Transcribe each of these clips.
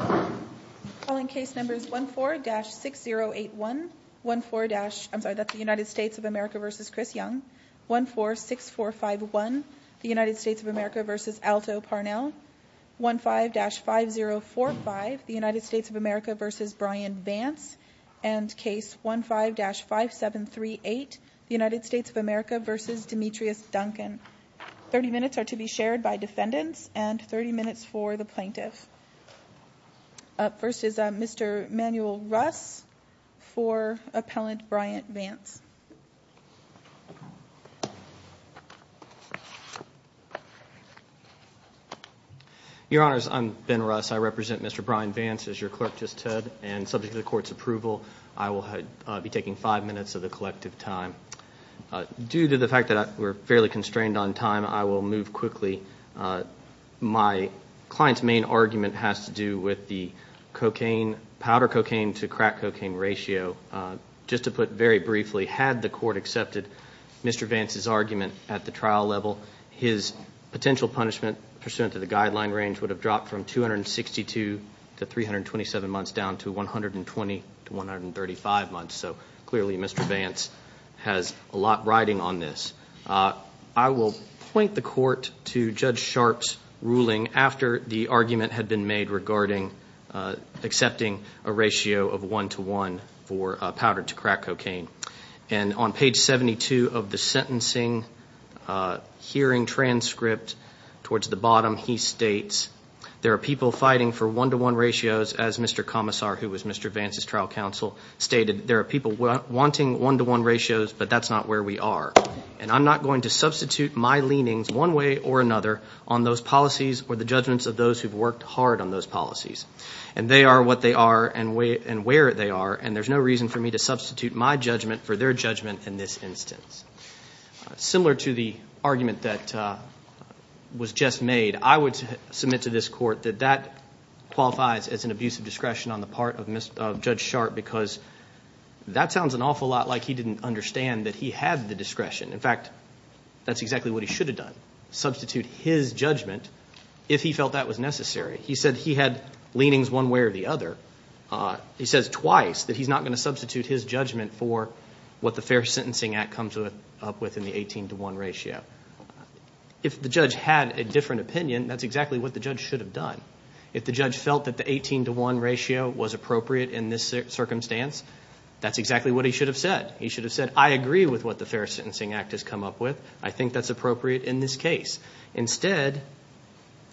30 minutes are to be shared by defendants and 30 minutes for the plaintiff. First is Mr. Manuel Russ for Appellant Brian Vance. Your Honors, I'm Ben Russ. I represent Mr. Brian Vance, as your clerk just said. And subject to the Court's approval, I will be taking five minutes of the collective time. Due to the fact that we're fairly constrained on time, I will move quickly. My client's main argument has to do with the cocaine, powder cocaine to crack cocaine ratio. Just to put very briefly, had the Court accepted Mr. Vance's argument at the trial level, his potential punishment pursuant to the guideline range would have dropped from 262 to 327 months down to 120 to 135 months. So clearly Mr. Vance has a lot riding on this. I will point the Court to Judge Sharpe's ruling after the argument had been made regarding accepting a ratio of 1 to 1 for powder to crack cocaine. And on page 72 of the sentencing hearing transcript, towards the bottom, he states, there are people fighting for 1 to 1 ratios, as Mr. Commissar, who was Mr. Vance's trial counsel, stated. There are people wanting 1 to 1 ratios, but that's not where we are. And I'm not going to substitute my leanings one way or another on those policies or the judgments of those who've worked hard on those policies. And they are what they are and where they are, and there's no reason for me to substitute my judgment for their judgment in this instance. Similar to the argument that was just made, I would submit to this Court that that qualifies as an abuse of discretion on the part of Judge Sharpe, because that sounds an awful lot like he didn't understand that he had the discretion. In fact, that's exactly what he should have done, substitute his judgment if he felt that was necessary. He said he had leanings one way or the other. He says twice that he's not going to substitute his judgment for what the Fair Sentencing Act comes up with in the 18 to 1 ratio. If the judge had a different opinion, that's exactly what the judge should have done. If the judge felt that the 18 to 1 ratio was appropriate in this circumstance, that's exactly what he should have said. He should have said, I agree with what the Fair Sentencing Act has come up with. I think that's appropriate in this case. Instead,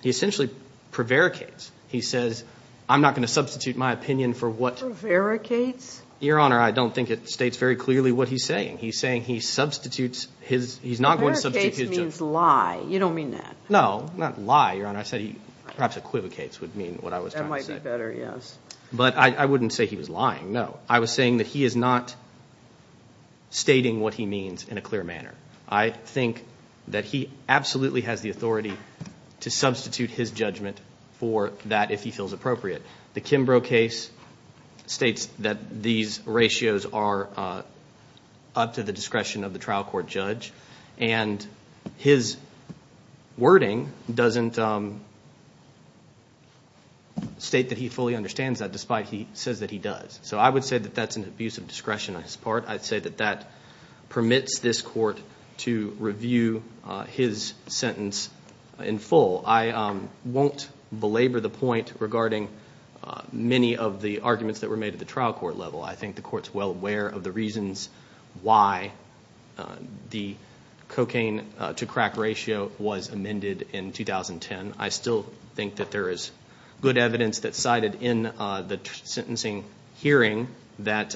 he essentially prevaricates. He says, I'm not going to substitute my opinion for what... Prevaricates? Your Honor, I don't think it states very clearly what he's saying. He's saying he substitutes his... Prevaricates means lie. You don't mean that. No, not lie, Your Honor. I said he perhaps equivocates would mean what I was trying to say. That might be better, yes. But I wouldn't say he was lying, no. I was saying that he is not stating what he means in a clear manner. I think that he absolutely has the authority to substitute his judgment for that if he feels appropriate. The Kimbrough case states that these and his wording doesn't state that he fully understands that despite he says that he does. I would say that that's an abuse of discretion on his part. I'd say that that permits this court to review his sentence in full. I won't belabor the point regarding many of the arguments that were made at the trial court level. I think the court's well aware of the reasons why the cocaine to crack ratio was amended in 2010. I still think that there is good evidence that's cited in the sentencing hearing that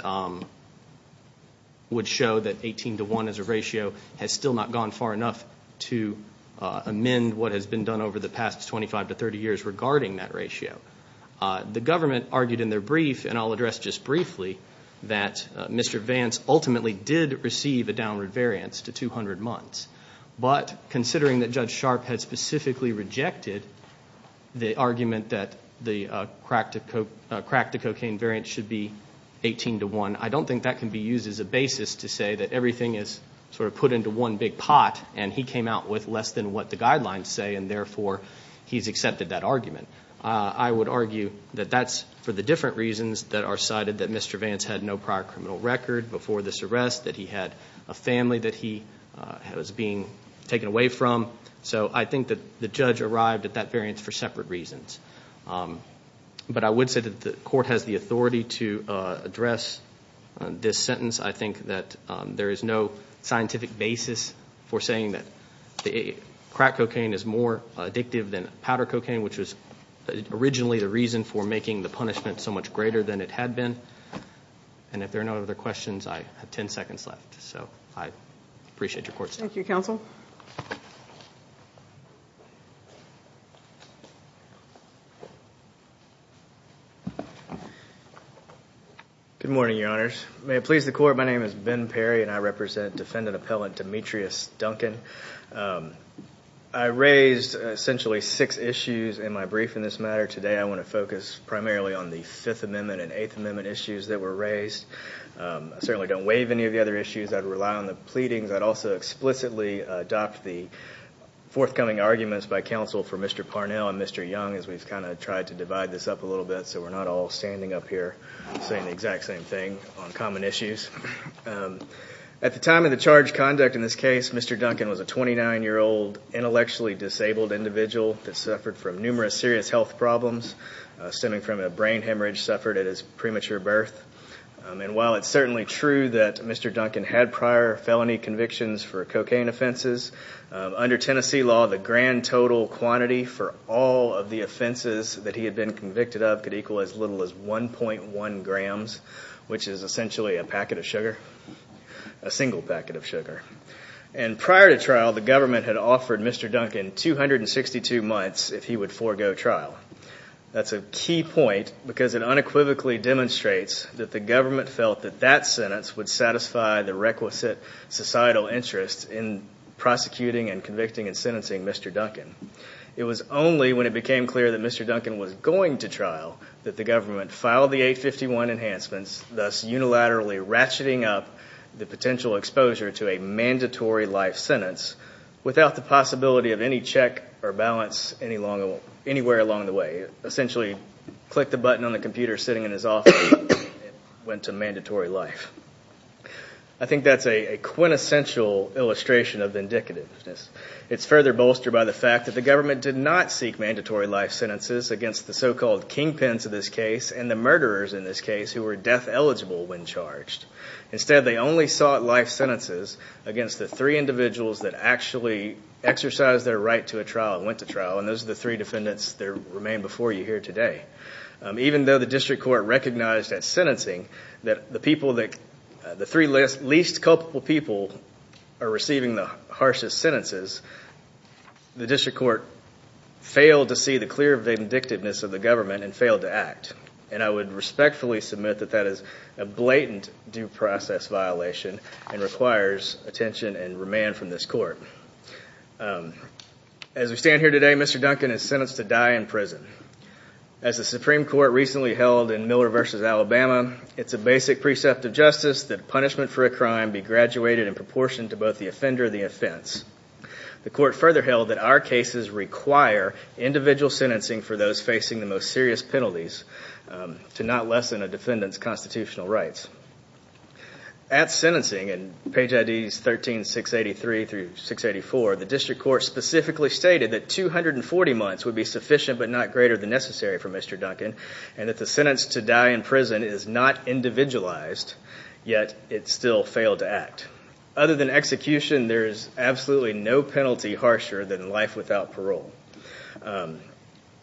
would show that 18 to 1 as a ratio has still not gone far enough to amend what has been done over the past 25 to 30 years regarding that ratio. The government argued in their brief, and I'll address just briefly, that Mr. Vance ultimately did receive a downward variance to 200 months. But considering that Judge Sharp had specifically rejected the argument that the crack to cocaine variance should be 18 to 1, I don't think that can be used as a basis to say that everything is put into one big pot and he came out with less than what the guidelines say and therefore he's accepted that argument. I would argue that that's for the different reasons that are cited, that Mr. Vance had no prior criminal record before this arrest, that he had a family that he was being taken away from. So I think that the judge arrived at that variance for separate reasons. But I would say that the court has the authority to address this sentence. I think that there is no scientific basis for saying that crack cocaine is more addictive than powder cocaine, which was originally the reason for making the punishment so much greater than it had been. And if there are no other questions, I have 10 seconds left. So I appreciate your court's time. Thank you, Counsel. Good morning, Your Honors. May it please the court, my name is Ben Perry and I represent Defendant Appellant Demetrius Duncan. I raised essentially six issues in my brief in this matter. Today I want to focus primarily on the Fifth Amendment and Eighth Amendment issues that were raised. I certainly don't waive any of the other issues. I'd rely on the pleadings. I'd also explicitly adopt the forthcoming arguments by counsel for Mr. Parnell and Mr. Young as we've kind of tried to divide this up a little bit so we're not all standing up here saying the exact same thing on common issues. At the time of the charged conduct in this case, Mr. Duncan was a 29-year-old intellectually disabled individual that suffered from numerous serious health problems stemming from a brain hemorrhage suffered at his premature birth. And while it's certainly true that Mr. Duncan had prior felony convictions for cocaine offenses, under Tennessee law the grand total quantity for all of the offenses that he had been convicted of could equal as little as 1.1 grams, which is essentially a packet of sugar, a single packet of sugar. And prior to trial, the government had offered Mr. Duncan 262 months if he would forego trial. That's a key point because it unequivocally demonstrates that the government felt that that sentence would satisfy the requisite societal interest in prosecuting and convicting and sentencing Mr. Duncan. It was only when it became clear that Mr. Duncan was going to trial that the government filed the 851 enhancements, thus unilaterally ratcheting up the potential exposure to a mandatory life sentence without the possibility of any check or balance anywhere along the way. It essentially clicked a button on the computer sitting in his office and went to mandatory life. I think that's a quintessential illustration of vindicativeness. It's further bolstered by the fact that the government did not seek mandatory life sentences against the so-called kingpins of this case and the murderers in this case who were death eligible when charged. Instead, they only sought life sentences against the three individuals that actually exercised their right to a trial and went to trial, and those are the three defendants that remain before you here today. Even though the district court recognized at sentencing that the people that the three least culpable people are receiving the harshest sentences, the district court failed to see the clear vindictiveness of the government and failed to act. I would respectfully submit that that is a blatant due process violation and requires attention and remand from this court. As we stand here today, Mr. Duncan is sentenced to die in prison. As the Supreme Court recently held in Miller v. Alabama, it's a basic precept of justice that punishment for a crime be graduated in proportion to both the offender and the offense. The court further held that our cases require individual sentencing for those facing the most serious penalties to not lessen a defendant's constitutional rights. At sentencing in page IDs 13, 683 through 684, the district court specifically stated that 240 months would be sufficient but not greater than necessary for Mr. Duncan, and that the sentence to die in prison is not individualized, yet it still failed to act. Other than execution, there is absolutely no penalty harsher than life without parole.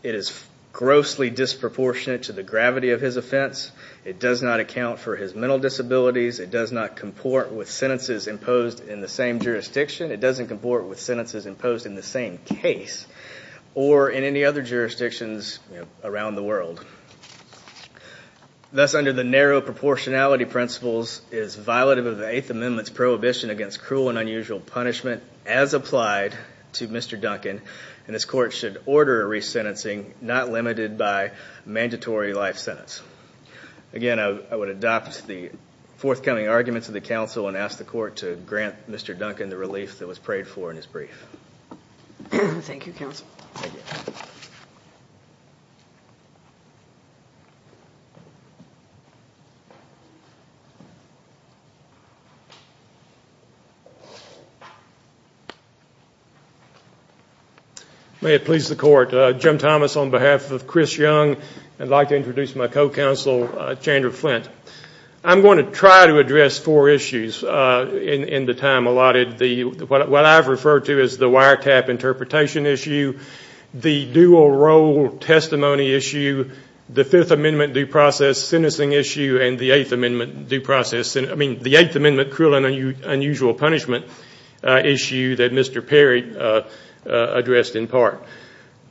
It is grossly disproportionate to the gravity of his offense. It does not account for his mental disabilities. It does not comport with sentences imposed in the same jurisdiction. It doesn't comport with sentences imposed in the same case or in any other jurisdictions around the world. Thus, under the narrow proportionality principles, it is violative of the Eighth Amendment's prohibition against cruel and unusual punishment as applied to Mr. Duncan, and this court should order a resentencing not limited by mandatory life sentence. Again, I would adopt the forthcoming arguments of the council and ask the court to grant Mr. Duncan the relief that was prayed for in his brief. Thank you, counsel. May it please the court. Jim Thomas on behalf of Chris Young. I'd like to introduce my co-counsel, Chandra Flint. I'm going to try to address four issues in the time allotted. What I've referred to is the wiretap interpretation issue, the dual role testimony issue, the Fifth Amendment due process sentencing issue, and the Eighth Amendment due process, I mean the Eighth Amendment cruel and unusual punishment issue that Mr. Perry addressed in part.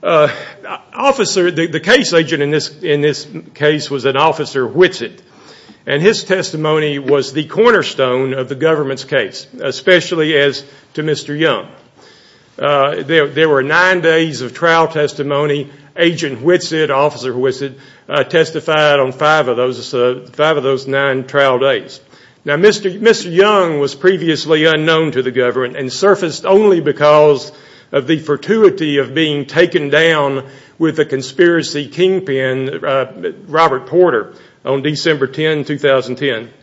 Officer, the case agent in this case was an Officer Whitsitt, and his testimony was the cornerstone of the government's case, especially as to Mr. Young. There were nine days of trial testimony. Agent Whitsitt, Officer Whitsitt testified on five of those nine trial days. Now, Mr. Young was previously unknown to the government and surfaced only because of the fortuity of being taken down with a conspiracy kingpin, Robert Porter, on December 10, 2010.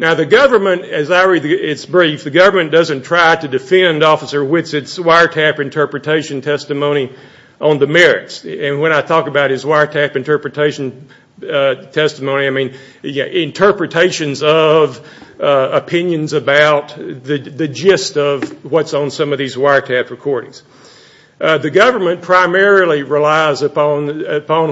Now, the government, as I read its brief, the government doesn't try to defend Officer Whitsitt's wiretap interpretation testimony on the merits, and when I talk about his wiretap interpretation testimony, I mean interpretations of opinions about the gist of what's on some of these wiretap recordings. The government primarily relies upon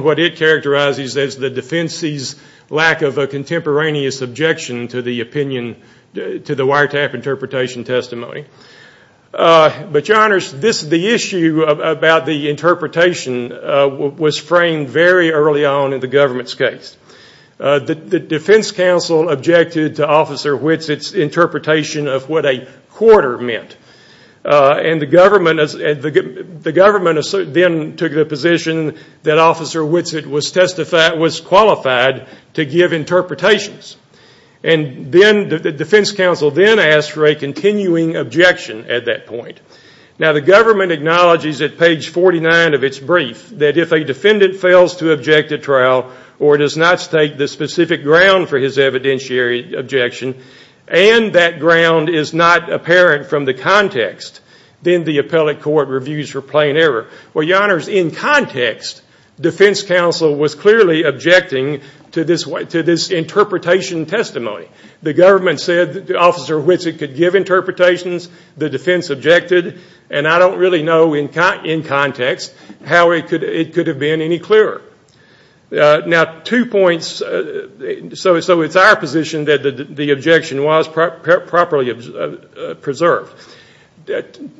what it characterizes as the defense's lack of a contemporaneous objection to the opinion, to the wiretap interpretation testimony. But, Your Honors, the issue about the interpretation was framed very early on in the government's case. The defense counsel objected to Officer Whitsitt's interpretation of what a quarter meant, and the government then took the position that Officer Whitsitt was qualified to give interpretations. And then the defense counsel then asked for a continuing objection at that point. Now, the government acknowledges at page 49 of its brief that if a defendant fails to object to trial or does not state the specific ground for his evidentiary objection, and that ground is not apparent in context, then the appellate court reviews for plain error. Well, Your Honors, in context, defense counsel was clearly objecting to this interpretation testimony. The government said that Officer Whitsitt could give interpretations, the defense objected, and I don't really know in context how it could have been any clearer. Now, two points, so it's our position that the objection was properly preserved.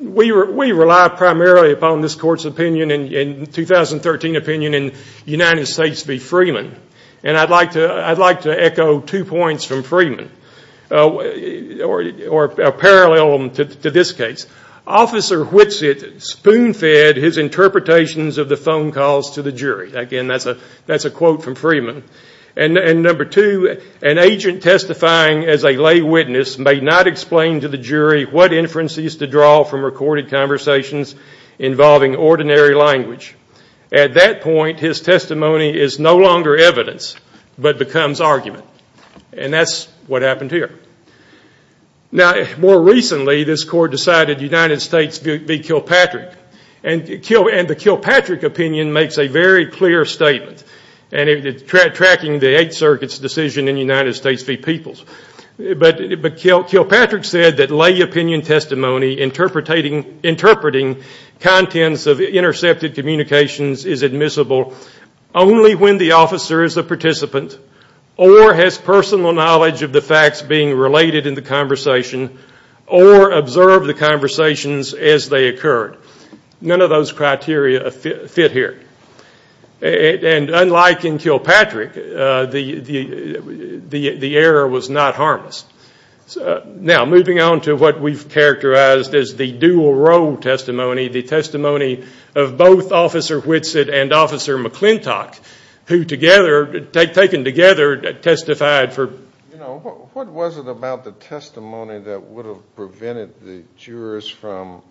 We rely primarily upon this Court's 2013 opinion in United States v. Freeman, and I'd like to echo two points from Freeman, or a parallel to this case. Officer Whitsitt spoon-fed his interpretations of the phone calls to the jury. Again, that's a quote from Freeman. And number two, an agent testifying as a lay witness may not explain to the jury what inferences to draw from recorded conversations involving ordinary language. At that point, his testimony is no longer evidence, but becomes argument. And that's what happened here. Now, more recently, this Court decided United States v. Kilpatrick, and the Kilpatrick opinion makes a very clear statement, and it's tracking the Eighth Circuit's decision in United States v. Peoples. But Kilpatrick said that lay opinion testimony interpreting contents of intercepted communications is admissible only when the officer is a participant, or has personal knowledge of the facts being related in the conversation, or observed the conversations as they occurred. None of those criteria fit here. And unlike in Kilpatrick, the error was not harmless. Now, moving on to what we've characterized as the dual role testimony, the testimony of both Officer Whitsitt and Officer McClintock, who together, taken together, testified for. You know, what was it about the testimony that would have prevented the jurors from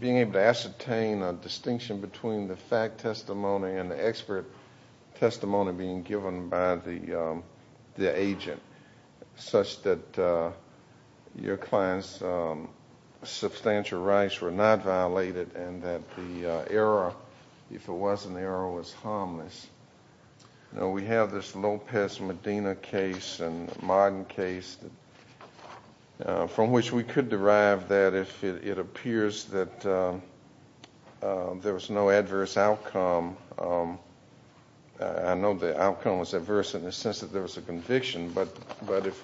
being able to ascertain a distinction between the fact testimony and the expert testimony being given by the agent, such that your client's substantial rights were not violated, and that the error, if it was an error, was harmless. You know, we have this Lopez-Medina case, a modern case, from which we could derive that if it appears that there was no adverse outcome, I know the outcome was adverse in the sense that there was a conviction, but if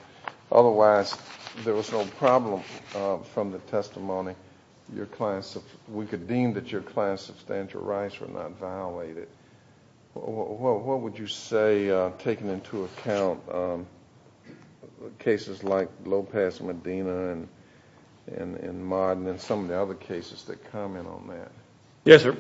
otherwise there was no problem from the testimony, we could deem that your client's substantial rights were not violated. What would you say, taking into account cases like Lopez-Medina and Marden and some of the other cases that comment on that? Yes, sir.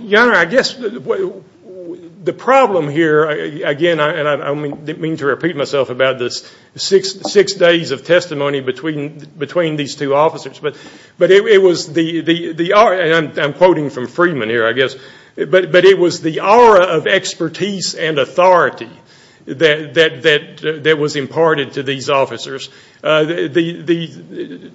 Your Honor, I guess the problem here, again, and I don't mean to repeat myself about this, six days of testimony between these two officers, but it was the, and I'm quoting from Freeman here, I guess, but it was the aura of expertise and authority that was imparted to these officers. The,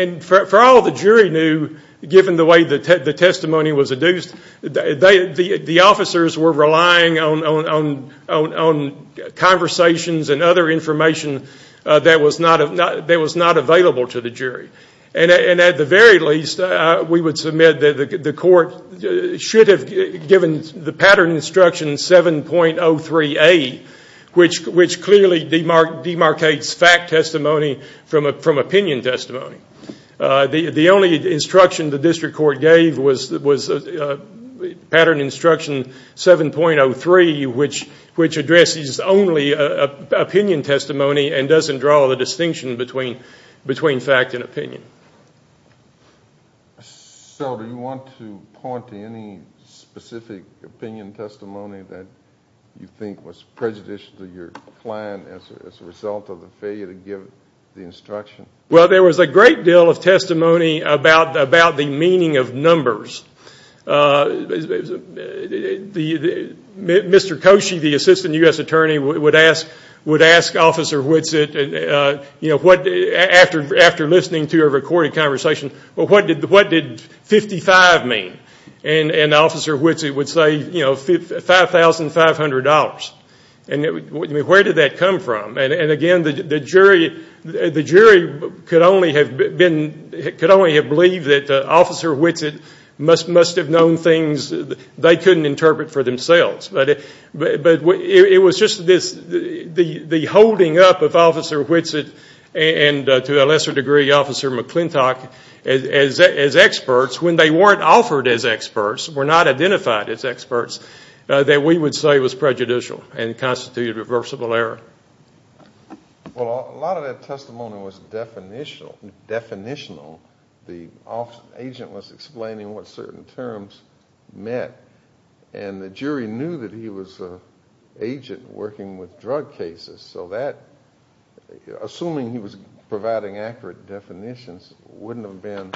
and for all the jury knew, given the way the testimony was adduced, the officers were relying on conversations and other information that was not available to the jury. And at the very least, we would submit that the court should have given the pattern instruction 7.03A, which clearly demarcates fact testimony from opinion testimony. The only instruction the district court gave was pattern instruction 7.03, which addresses only opinion testimony and doesn't draw the distinction between fact and opinion. So do you want to point to any specific opinion testimony that you think was prejudicial to your plan as a result of the failure to give the instruction? Well, there was a great deal of testimony about the meaning of numbers. Mr. Koshy, the assistant U.S. attorney, would ask Officer Whitsitt, you know, after listening to a recorded conversation, well, what did 55 mean? And Officer Whitsitt would say, you know, $5,500. And where did that come from? And again, the jury could only have believed that Officer Whitsitt must have known things they couldn't interpret for themselves. But it was just the holding up of Officer Whitsitt and to a lesser degree Officer McClintock as experts, when they weren't offered as experts, were not identified as experts, that we would say was prejudicial and constituted reversible error. Well, a lot of that testimony was definitional. The agent was explaining what certain terms meant. And the jury knew that he was an agent working with drug cases. So that, assuming he was providing accurate definitions, wouldn't have been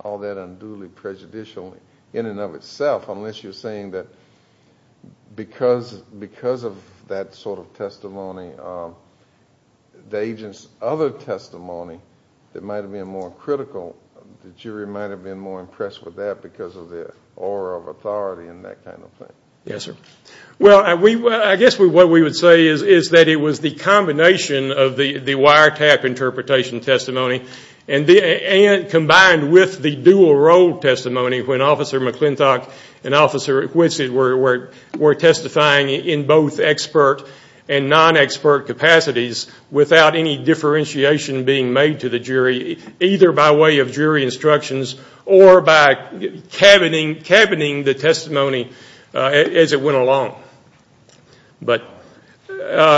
all that unduly prejudicial in and of itself, unless you're saying that because of that sort of testimony, the agent's other testimony that might have been more critical, the jury might have been more impressed with that because of the aura of authority and that kind of thing. Yes, sir. Well, I guess what we would say is that it was the combination of the wiretap interpretation testimony and combined with the dual role testimony when Officer McClintock and Officer Whitsitt were testifying in both expert and non-expert capacities without any differentiation being made to the jury, either by way of jury instructions or by cabining the testimony as it went along. Fortunately,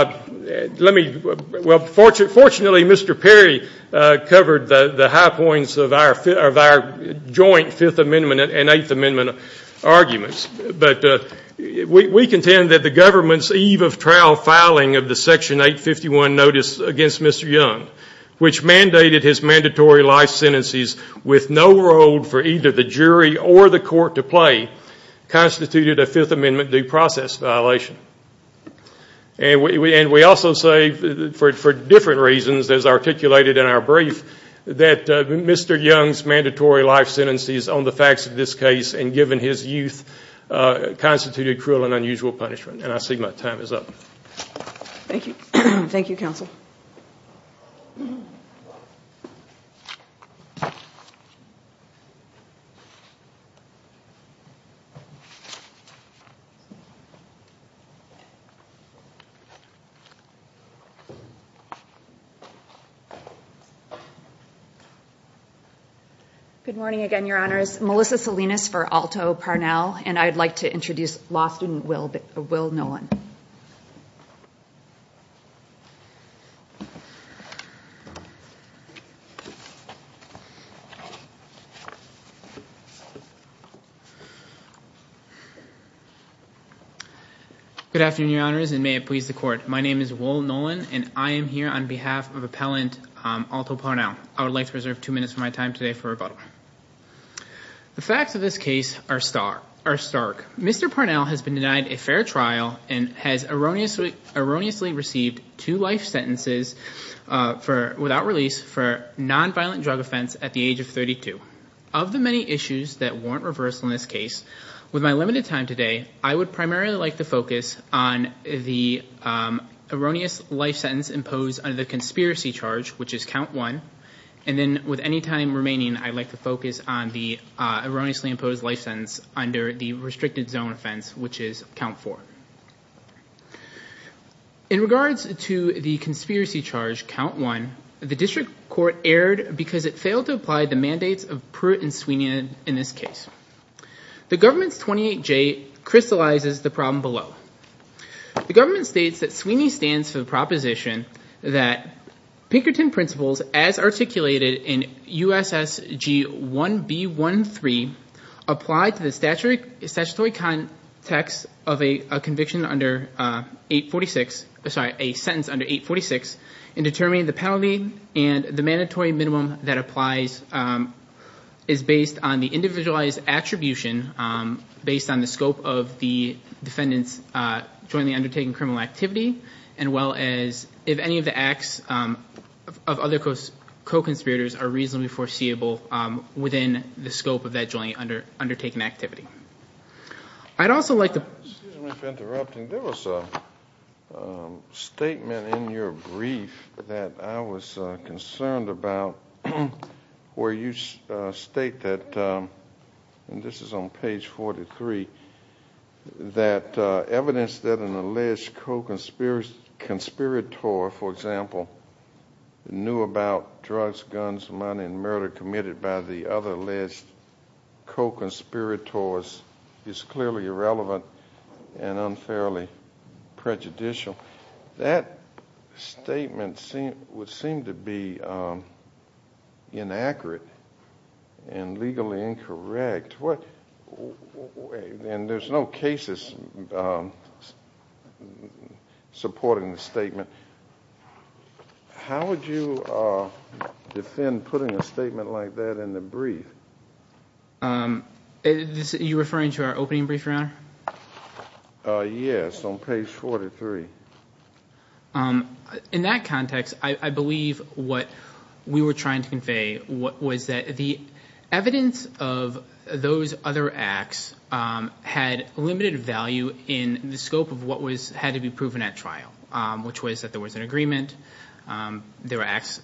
Mr. Perry covered the high points of our joint Fifth Amendment and Eighth Amendment arguments. But we contend that the government's eve of trial filing of the Section 851 notice against Mr. Young, which mandated his mandatory life sentences with no role for either the jury or the court to play, constituted a Fifth Amendment due process violation. And we also say, for different reasons, as articulated in our brief, that Mr. Young's mandatory life sentences on the facts of this case and given his youth constituted cruel and unusual punishment. And I see my time is up. Thank you. Thank you, Counsel. Good morning again, Your Honors. Melissa Salinas for Alto Parnell, and I'd like to introduce law student Will Nolan. Good afternoon, Your Honors, and may it please the Court. My name is Will Nolan, and I am here on behalf of appellant Alto Parnell. I would like to reserve two minutes of my time today for rebuttal. The facts of this case are stark. Mr. Parnell has been denied a fair trial and has erroneously received two life sentences without release for nonviolent drug offense at the age of 32. Of the many issues that warrant reversal in this case, with my limited time today, I would primarily like to focus on the erroneous life sentence imposed under the conspiracy charge, which is count one, and then with any time remaining, I'd like to focus on the erroneously imposed life sentence under the restricted zone offense, which is count four. In regards to the conspiracy charge, count one, the district court erred because it failed to apply the mandates of Pruitt and Sweeney in this case. The government's 28J crystallizes the problem below. The government states that Sweeney stands for the proposition that Pinkerton principles, as articulated in USSG 1B13, apply to the statutory context of a conviction under 846, sorry, a sentence under 846, and determine the penalty and the mandatory minimum that applies is based on the individualized attribution based on the scope of the defendant's jointly undertaken criminal activity as well as if any of the acts of other co-conspirators are reasonably foreseeable within the scope of that jointly undertaken activity. I'd also like to... Excuse me for interrupting. There was a statement in your brief that I was concerned about where you state that, and this is on page 43, that evidence that an alleged co-conspirator, for example, knew about drugs, guns, money, and murder committed by the other alleged co-conspirators is clearly irrelevant and unfairly prejudicial. That statement would seem to be inaccurate and legally incorrect. And there's no cases supporting the statement. How would you defend putting a statement like that in the brief? Are you referring to our opening brief, Your Honor? Yes, on page 43. In that context, I believe what we were trying to convey was that the evidence of those other acts had limited value in the scope of what had to be proven at trial, which was that there was an agreement, there were acts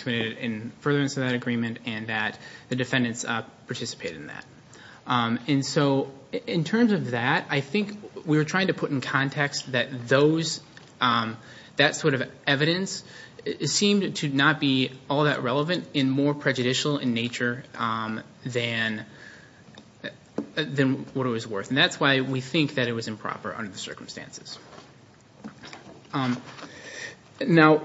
committed in furtherance of that agreement, and that the defendants participated in that. In terms of that, I think we were trying to put in context that that sort of evidence seemed to not be all that relevant and more prejudicial in nature than what it was worth. And that's why we think that it was improper under the circumstances. Now,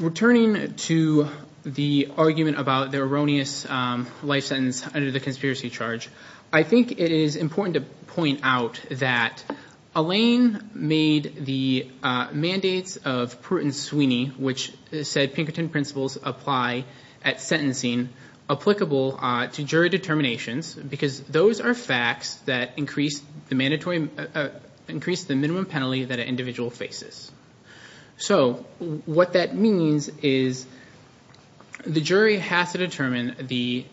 returning to the argument about the erroneous life sentence under the conspiracy charge, I think it is important to point out that Alain made the mandates of Pruitt and Sweeney, which said Pinkerton principles apply at sentencing, applicable to jury determinations, because those are facts that increase the minimum penalty that an individual faces. So what that means is the jury has to determine the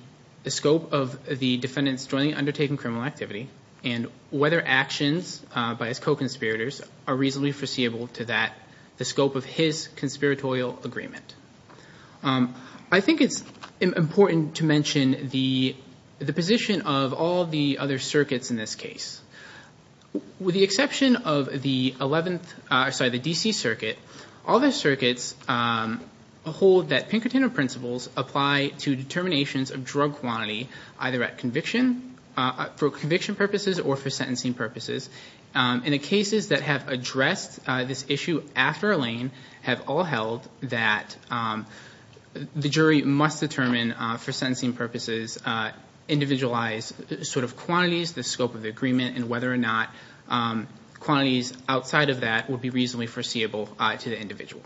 scope of the defendant's jointly undertaken criminal activity and whether actions by his co-conspirators are reasonably foreseeable to that, the scope of his conspiratorial agreement. I think it's important to mention the position of all the other circuits in this case. With the exception of the 11th... Sorry, the D.C. Circuit, all the circuits hold that Pinkerton principles apply to determinations of drug quantity either for conviction purposes or for sentencing purposes. And the cases that have addressed this issue after Alain have all held that the jury must determine, for sentencing purposes, individualized quantities, the scope of the agreement, and whether or not quantities outside of that would be reasonably foreseeable to the individual.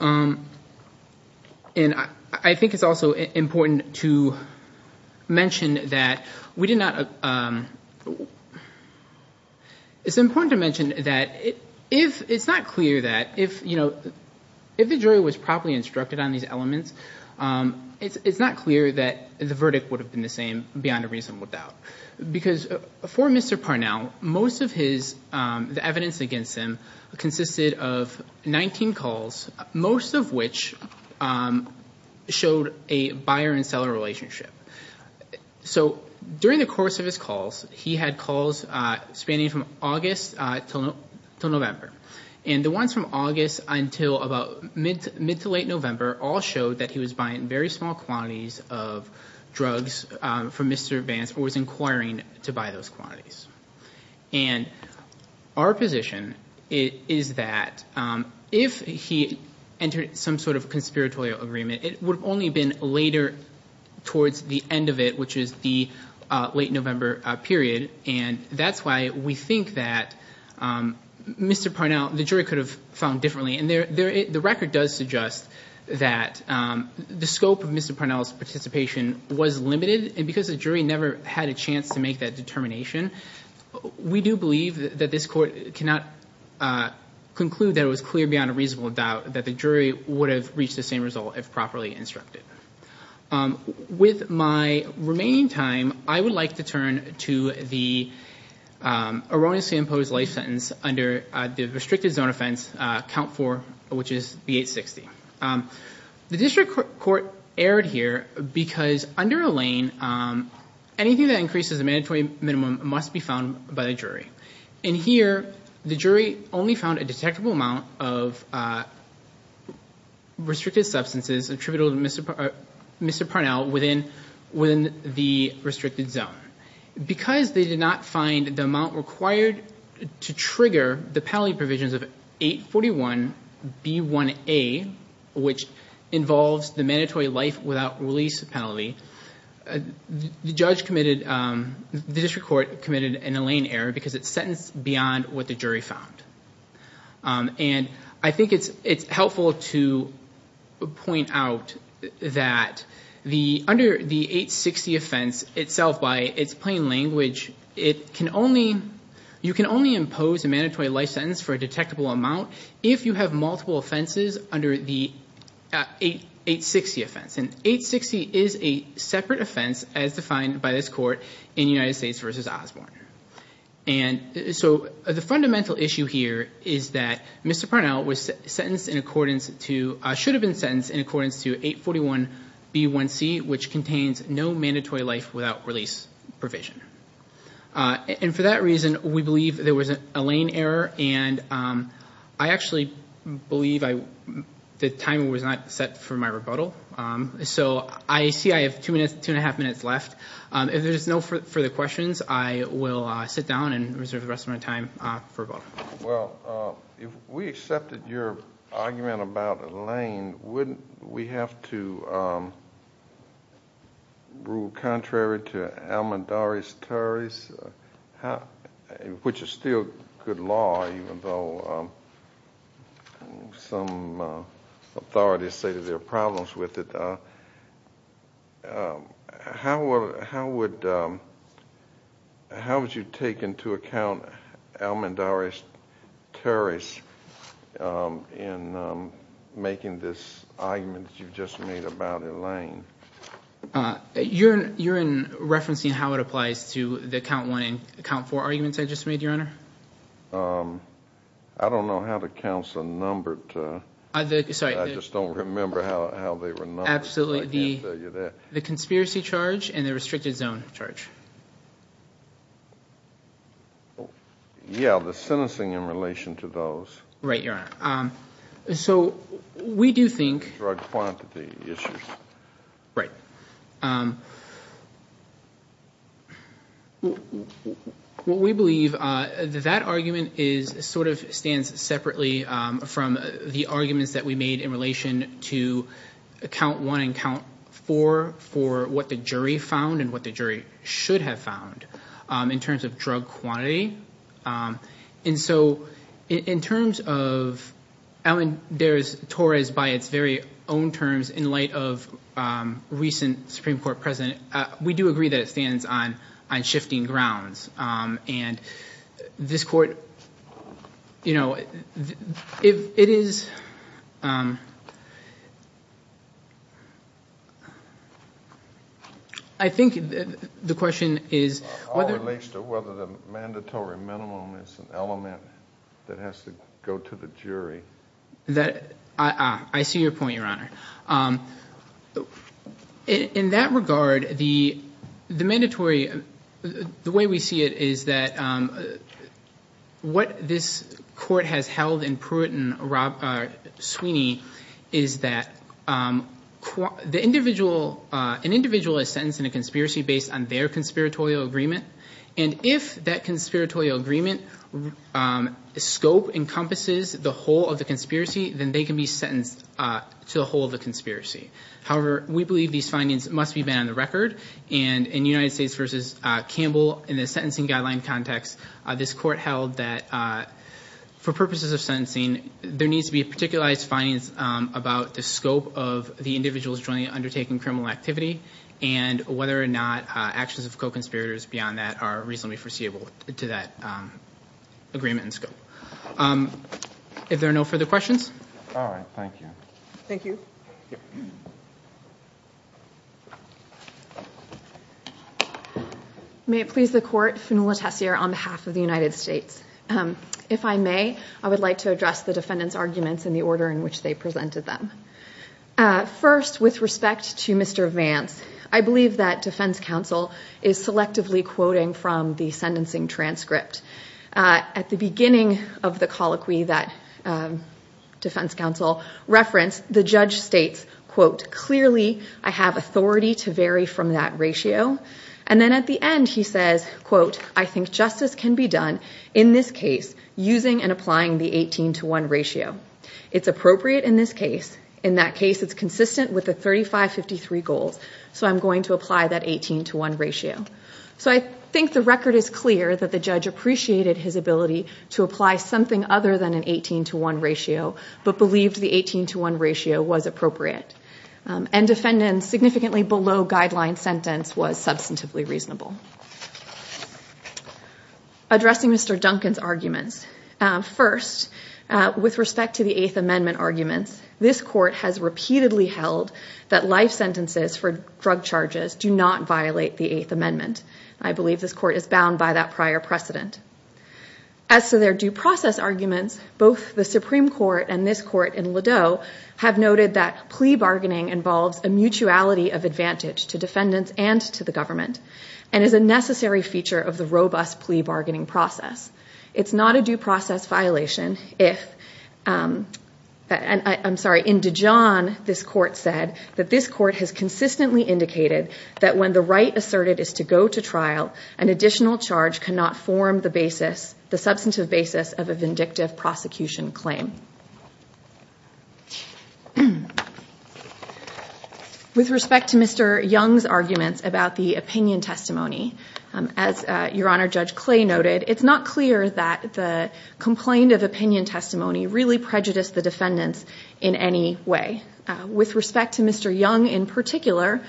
And I think it's also important to mention that we did not... It's important to mention that it's not clear that... If the jury was properly instructed on these elements, it's not clear that the verdict would have been the same, beyond a reasonable doubt. Because for Mr. Parnell, most of the evidence against him consisted of 19 calls, most of which showed a buyer and seller relationship. So during the course of his calls, he had calls spanning from August till November. And the ones from August until about mid to late November all showed that he was buying very small quantities of drugs from Mr. Vance or was inquiring to buy those quantities. And our position is that if he entered some sort of conspiratorial agreement, it would have only been later towards the end of it, which is the late November period. And that's why we think that Mr. Parnell... The jury could have found differently. And the record does suggest that the scope of Mr. Parnell's participation was limited. And because the jury never had a chance to make that determination, we do believe that this court cannot conclude that it was clear beyond a reasonable doubt that the jury would have reached the same result if properly instructed. With my remaining time, I would like to turn to the erroneously imposed life sentence under the restricted zone offense, count 4, which is the 860. The district court erred here because under Elaine, anything that increases the mandatory minimum must be found by the jury. And here, the jury only found a detectable amount of restricted substances attributable to Mr. Parnell within the restricted zone. Because they did not find the amount required to trigger the penalty provisions of 841B1A, which involves the mandatory life without release penalty, the judge committed... The district court committed an Elaine error because it's sentenced beyond what the jury found. And I think it's helpful to point out that under the 860 offense itself, by its plain language, you can only impose a mandatory life sentence for a detectable amount if you have multiple offenses under the 860 offense. And 860 is a separate offense, as defined by this court, in United States v. Osborne. And so the fundamental issue here is that Mr. Parnell should have been sentenced in accordance to 841B1C, which contains no mandatory life without release provision. And for that reason, we believe there was an Elaine error. And I actually believe the time was not set for my rebuttal. So I see I have 2 1⁄2 minutes left. If there's no further questions, I will sit down and reserve the rest of my time for rebuttal. Well, if we accepted your argument about Elaine, wouldn't we have to rule contrary to Almodovar's Tories, which is still good law, even though some authorities say that there are problems with it? How would you take into account Almodovar's Tories in making this argument that you just made about Elaine? You're referencing how it applies to the count 1 and count 4 arguments I just made, Your Honor? I don't know how the counts are numbered. I just don't remember how they were numbered. Absolutely. The conspiracy charge and the restricted zone charge. Yeah, the sentencing in relation to those. Right, Your Honor. So we do think— Drug quantity issues. Right. What we believe is that that argument sort of stands separately from the arguments that we made in relation to count 1 and count 4 for what the jury found and what the jury should have found in terms of drug quantity. And so in terms of Elaine Torres by its very own terms in light of recent Supreme Court precedent, we do agree that it stands on shifting grounds. I think the question is— It's an element that has to go to the jury. I see your point, Your Honor. In that regard, the mandatory—the way we see it is that what this court has held in Pruitt and Sweeney is that an individual is sentenced in a conspiracy based on their conspiratorial agreement. And if that conspiratorial agreement scope encompasses the whole of the conspiracy, then they can be sentenced to the whole of the conspiracy. However, we believe these findings must be made on the record. And in United States v. Campbell, in the sentencing guideline context, this court held that for purposes of sentencing, there needs to be a particularized findings about the scope of the individuals jointly undertaking criminal activity and whether or not actions of co-conspirators beyond that are reasonably foreseeable to that agreement and scope. If there are no further questions? All right. Thank you. Thank you. May it please the Court, Phenola Tessier on behalf of the United States. If I may, I would like to address the defendant's arguments in the order in which they presented them. First, with respect to Mr. Vance, I believe that defense counsel is selectively quoting from the sentencing transcript. At the beginning of the colloquy that defense counsel referenced, the judge states, quote, clearly I have authority to vary from that ratio. And then at the end, he says, quote, I think justice can be done in this case using and applying the 18 to 1 ratio. It's appropriate in this case. In that case, it's consistent with the 35-53 goals. So I'm going to apply that 18 to 1 ratio. So I think the record is clear that the judge appreciated his ability to apply something other than an 18 to 1 ratio but believed the 18 to 1 ratio was appropriate. And defendant significantly below guideline sentence was substantively reasonable. Addressing Mr. Duncan's arguments. First, with respect to the Eighth Amendment arguments, this court has repeatedly held that life sentences for drug charges do not violate the Eighth Amendment. I believe this court is bound by that prior precedent. As to their due process arguments, both the Supreme Court and this court in Ladeau have noted that plea bargaining involves a mutuality of advantage to defendants and to the government and is a necessary feature of the robust plea bargaining process. It's not a due process violation if... I'm sorry, in Dijon, this court said that this court has consistently indicated that when the right asserted is to go to trial, an additional charge cannot form the substantive basis of a vindictive prosecution claim. With respect to Mr. Young's arguments about the opinion testimony, as Your Honor, Judge Clay noted, it's not clear that the complaint of opinion testimony really prejudiced the defendants in any way. With respect to Mr. Young in particular,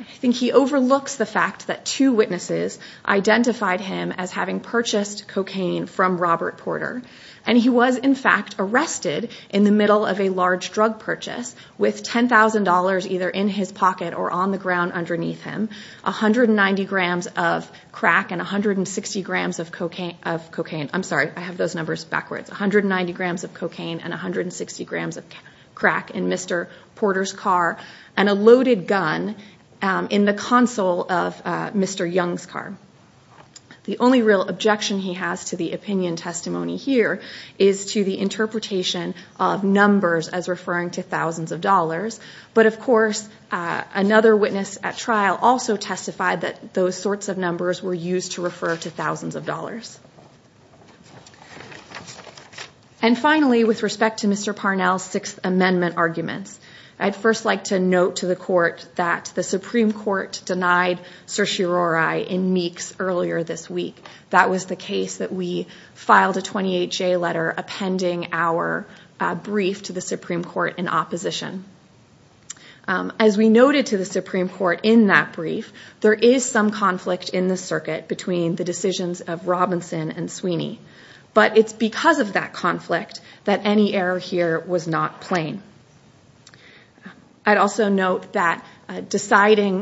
I think he overlooks the fact that two witnesses identified him as having purchased cocaine from Robert Porter. And he was, in fact, arrested in the middle of a large drug purchase with $10,000 either in his pocket or on the ground underneath him, 190 grams of crack and 160 grams of cocaine... I'm sorry, I have those numbers backwards. 190 grams of cocaine and 160 grams of crack in Mr. Porter's car and a loaded gun in the console of Mr. Young's car. The only real objection he has to the opinion testimony here is to the interpretation of numbers as referring to thousands of dollars. But, of course, another witness at trial also testified that those sorts of numbers were used to refer to thousands of dollars. And finally, with respect to Mr. Parnell's Sixth Amendment arguments, I'd first like to note to the Court that the Supreme Court denied certiorari in Meeks earlier this week. That was the case that we filed a 28-J letter appending our brief to the Supreme Court in opposition. As we noted to the Supreme Court in that brief, there is some conflict in the circuit between the decisions of Robinson and Sweeney. But it's because of that conflict that any error here was not plain. I'd also note that deciding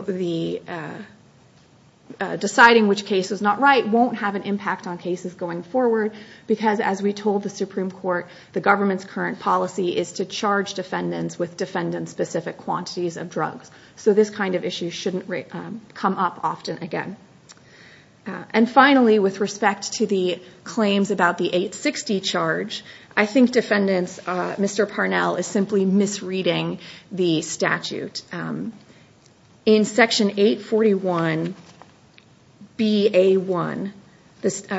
which case was not right won't have an impact on cases going forward because, as we told the Supreme Court, the government's current policy is to charge defendants with defendant-specific quantities of drugs. So this kind of issue shouldn't come up often again. And finally, with respect to the claims about the 860 charge, I think Mr. Parnell is simply misreading the statute. In Section 841 B.A.1,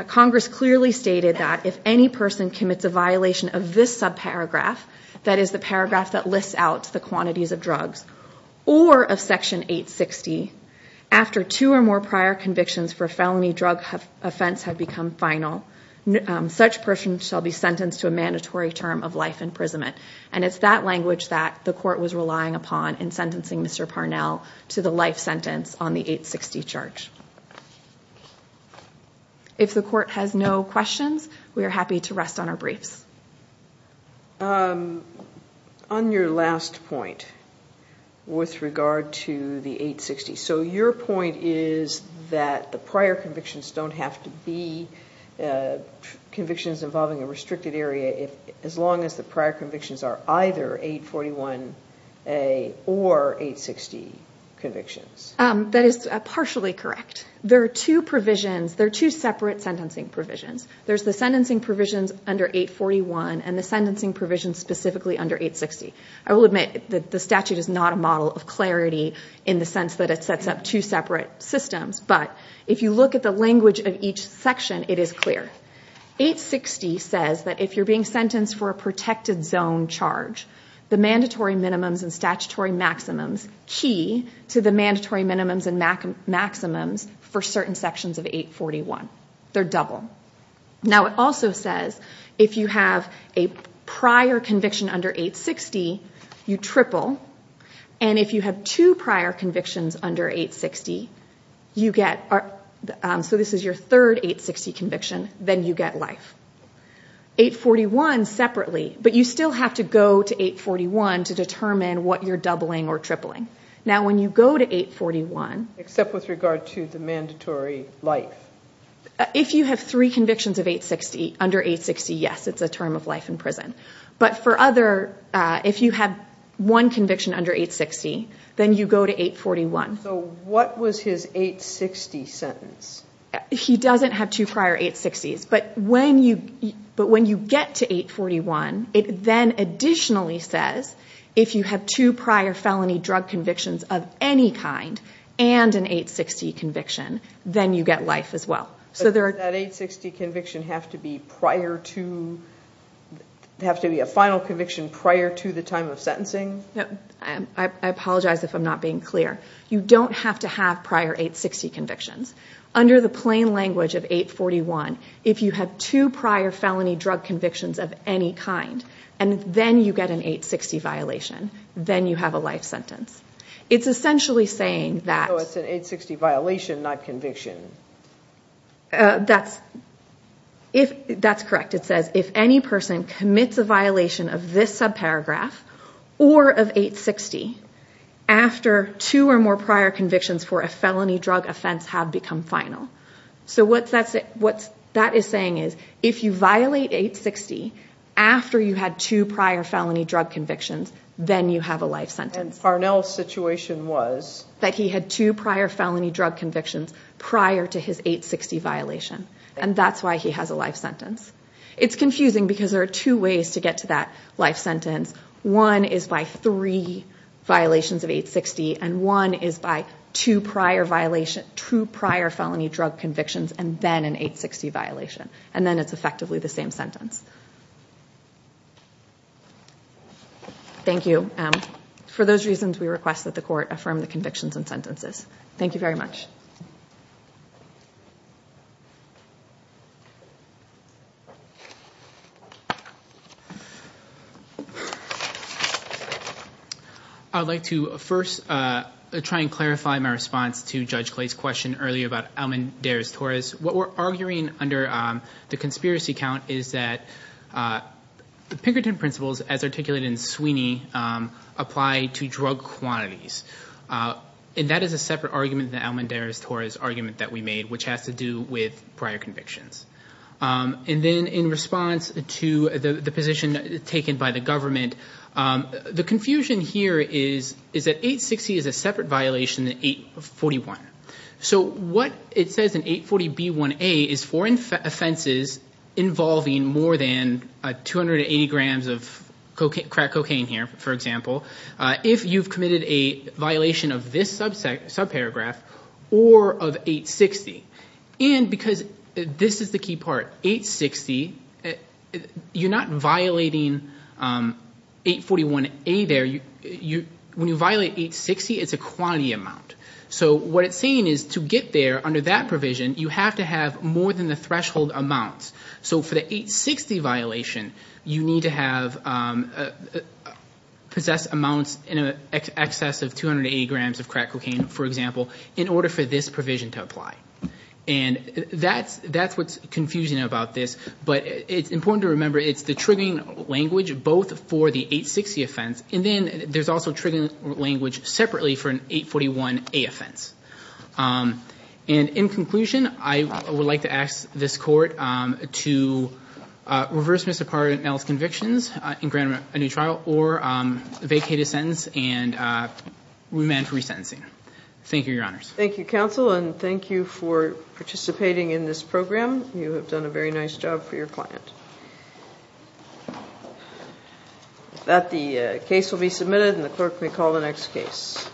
Congress clearly stated that if any person commits a violation of this subparagraph, that is the paragraph that lists out the quantities of drugs, or of Section 860, after two or more prior convictions for a felony drug offense have become final, such person shall be sentenced to a mandatory term of life imprisonment. And it's that language that the Court was relying upon in sentencing Mr. Parnell to the life sentence on the 860 charge. If the Court has no questions, we are happy to rest on our briefs. On your last point, with regard to the 860, so your point is that the prior convictions don't have to be convictions involving a restricted area as long as the prior convictions are either 841A or 860 convictions. That is partially correct. There are two separate sentencing provisions. There's the sentencing provisions under 841 and the sentencing provisions specifically under 860. I will admit that the statute is not a model of clarity in the sense that it sets up two separate systems, but if you look at the language of each section, it is clear. 860 says that if you're being sentenced for a protected zone charge, the mandatory minimums and statutory maximums key to the mandatory minimums and maximums for certain sections of 841. They're double. Now it also says if you have a prior conviction under 860, you triple. And if you have two prior convictions under 860, so this is your third 860 conviction, then you get life. 841 separately, but you still have to go to 841 to determine what you're doubling or tripling. Now when you go to 841... Except with regard to the mandatory life. If you have three convictions under 860, yes, it's a term of life in prison. But if you have one conviction under 860, then you go to 841. So what was his 860 sentence? He doesn't have two prior 860s. But when you get to 841, it then additionally says if you have two prior felony drug convictions of any kind and an 860 conviction, then you get life as well. Does that 860 conviction have to be a final conviction prior to the time of sentencing? I apologize if I'm not being clear. You don't have to have prior 860 convictions. Under the plain language of 841, if you have two prior felony drug convictions of any kind and then you get an 860 violation, then you have a life sentence. It's essentially saying that... So it's an 860 violation, not conviction. That's correct. It says if any person commits a violation of this subparagraph or of 860 after two or more prior convictions for a felony drug offense have become final. So what that is saying is if you violate 860 after you had two prior felony drug convictions, then you have a life sentence. And Parnell's situation was? That he had two prior felony drug convictions prior to his 860 violation. And that's why he has a life sentence. It's confusing because there are two ways to get to that life sentence. One is by three violations of 860, and one is by two prior felony drug convictions and then an 860 violation. And then it's effectively the same sentence. Thank you. For those reasons, we request that the court affirm the convictions and sentences. Thank you very much. I'd like to first try and clarify my response to Judge Clay's question earlier about Almendarez-Torres. What we're arguing under the conspiracy count is that the Pinkerton principles, as articulated in Sweeney, apply to drug quantities. And that is a separate argument than the Almendarez-Torres argument that we made, which has to do with prior convictions. And then in response to the position taken by the government, the confusion here is that 860 is a separate violation than 841. So what it says in 840b1a is foreign offenses involving more than 280 grams of crack cocaine here, for example, if you've committed a violation of this subparagraph or of 860. And because this is the key part, 860, you're not violating 841a there. When you violate 860, it's a quantity amount. So what it's saying is to get there under that provision, you have to have more than the threshold amounts. So for the 860 violation, you need to possess amounts in excess of 280 grams of crack cocaine, for example, in order for this provision to apply. And that's what's confusing about this. But it's important to remember it's the triggering language both for the 860 offense, and then there's also triggering language separately for an 841a offense. And in conclusion, I would like to ask this Court to reverse Mr. Parnell's convictions and grant him a new trial or vacate his sentence and remand for resentencing. Thank you, Your Honors. Thank you, Counsel, and thank you for participating in this program. You have done a very nice job for your client. With that, the case will be submitted, and the clerk may call the next case.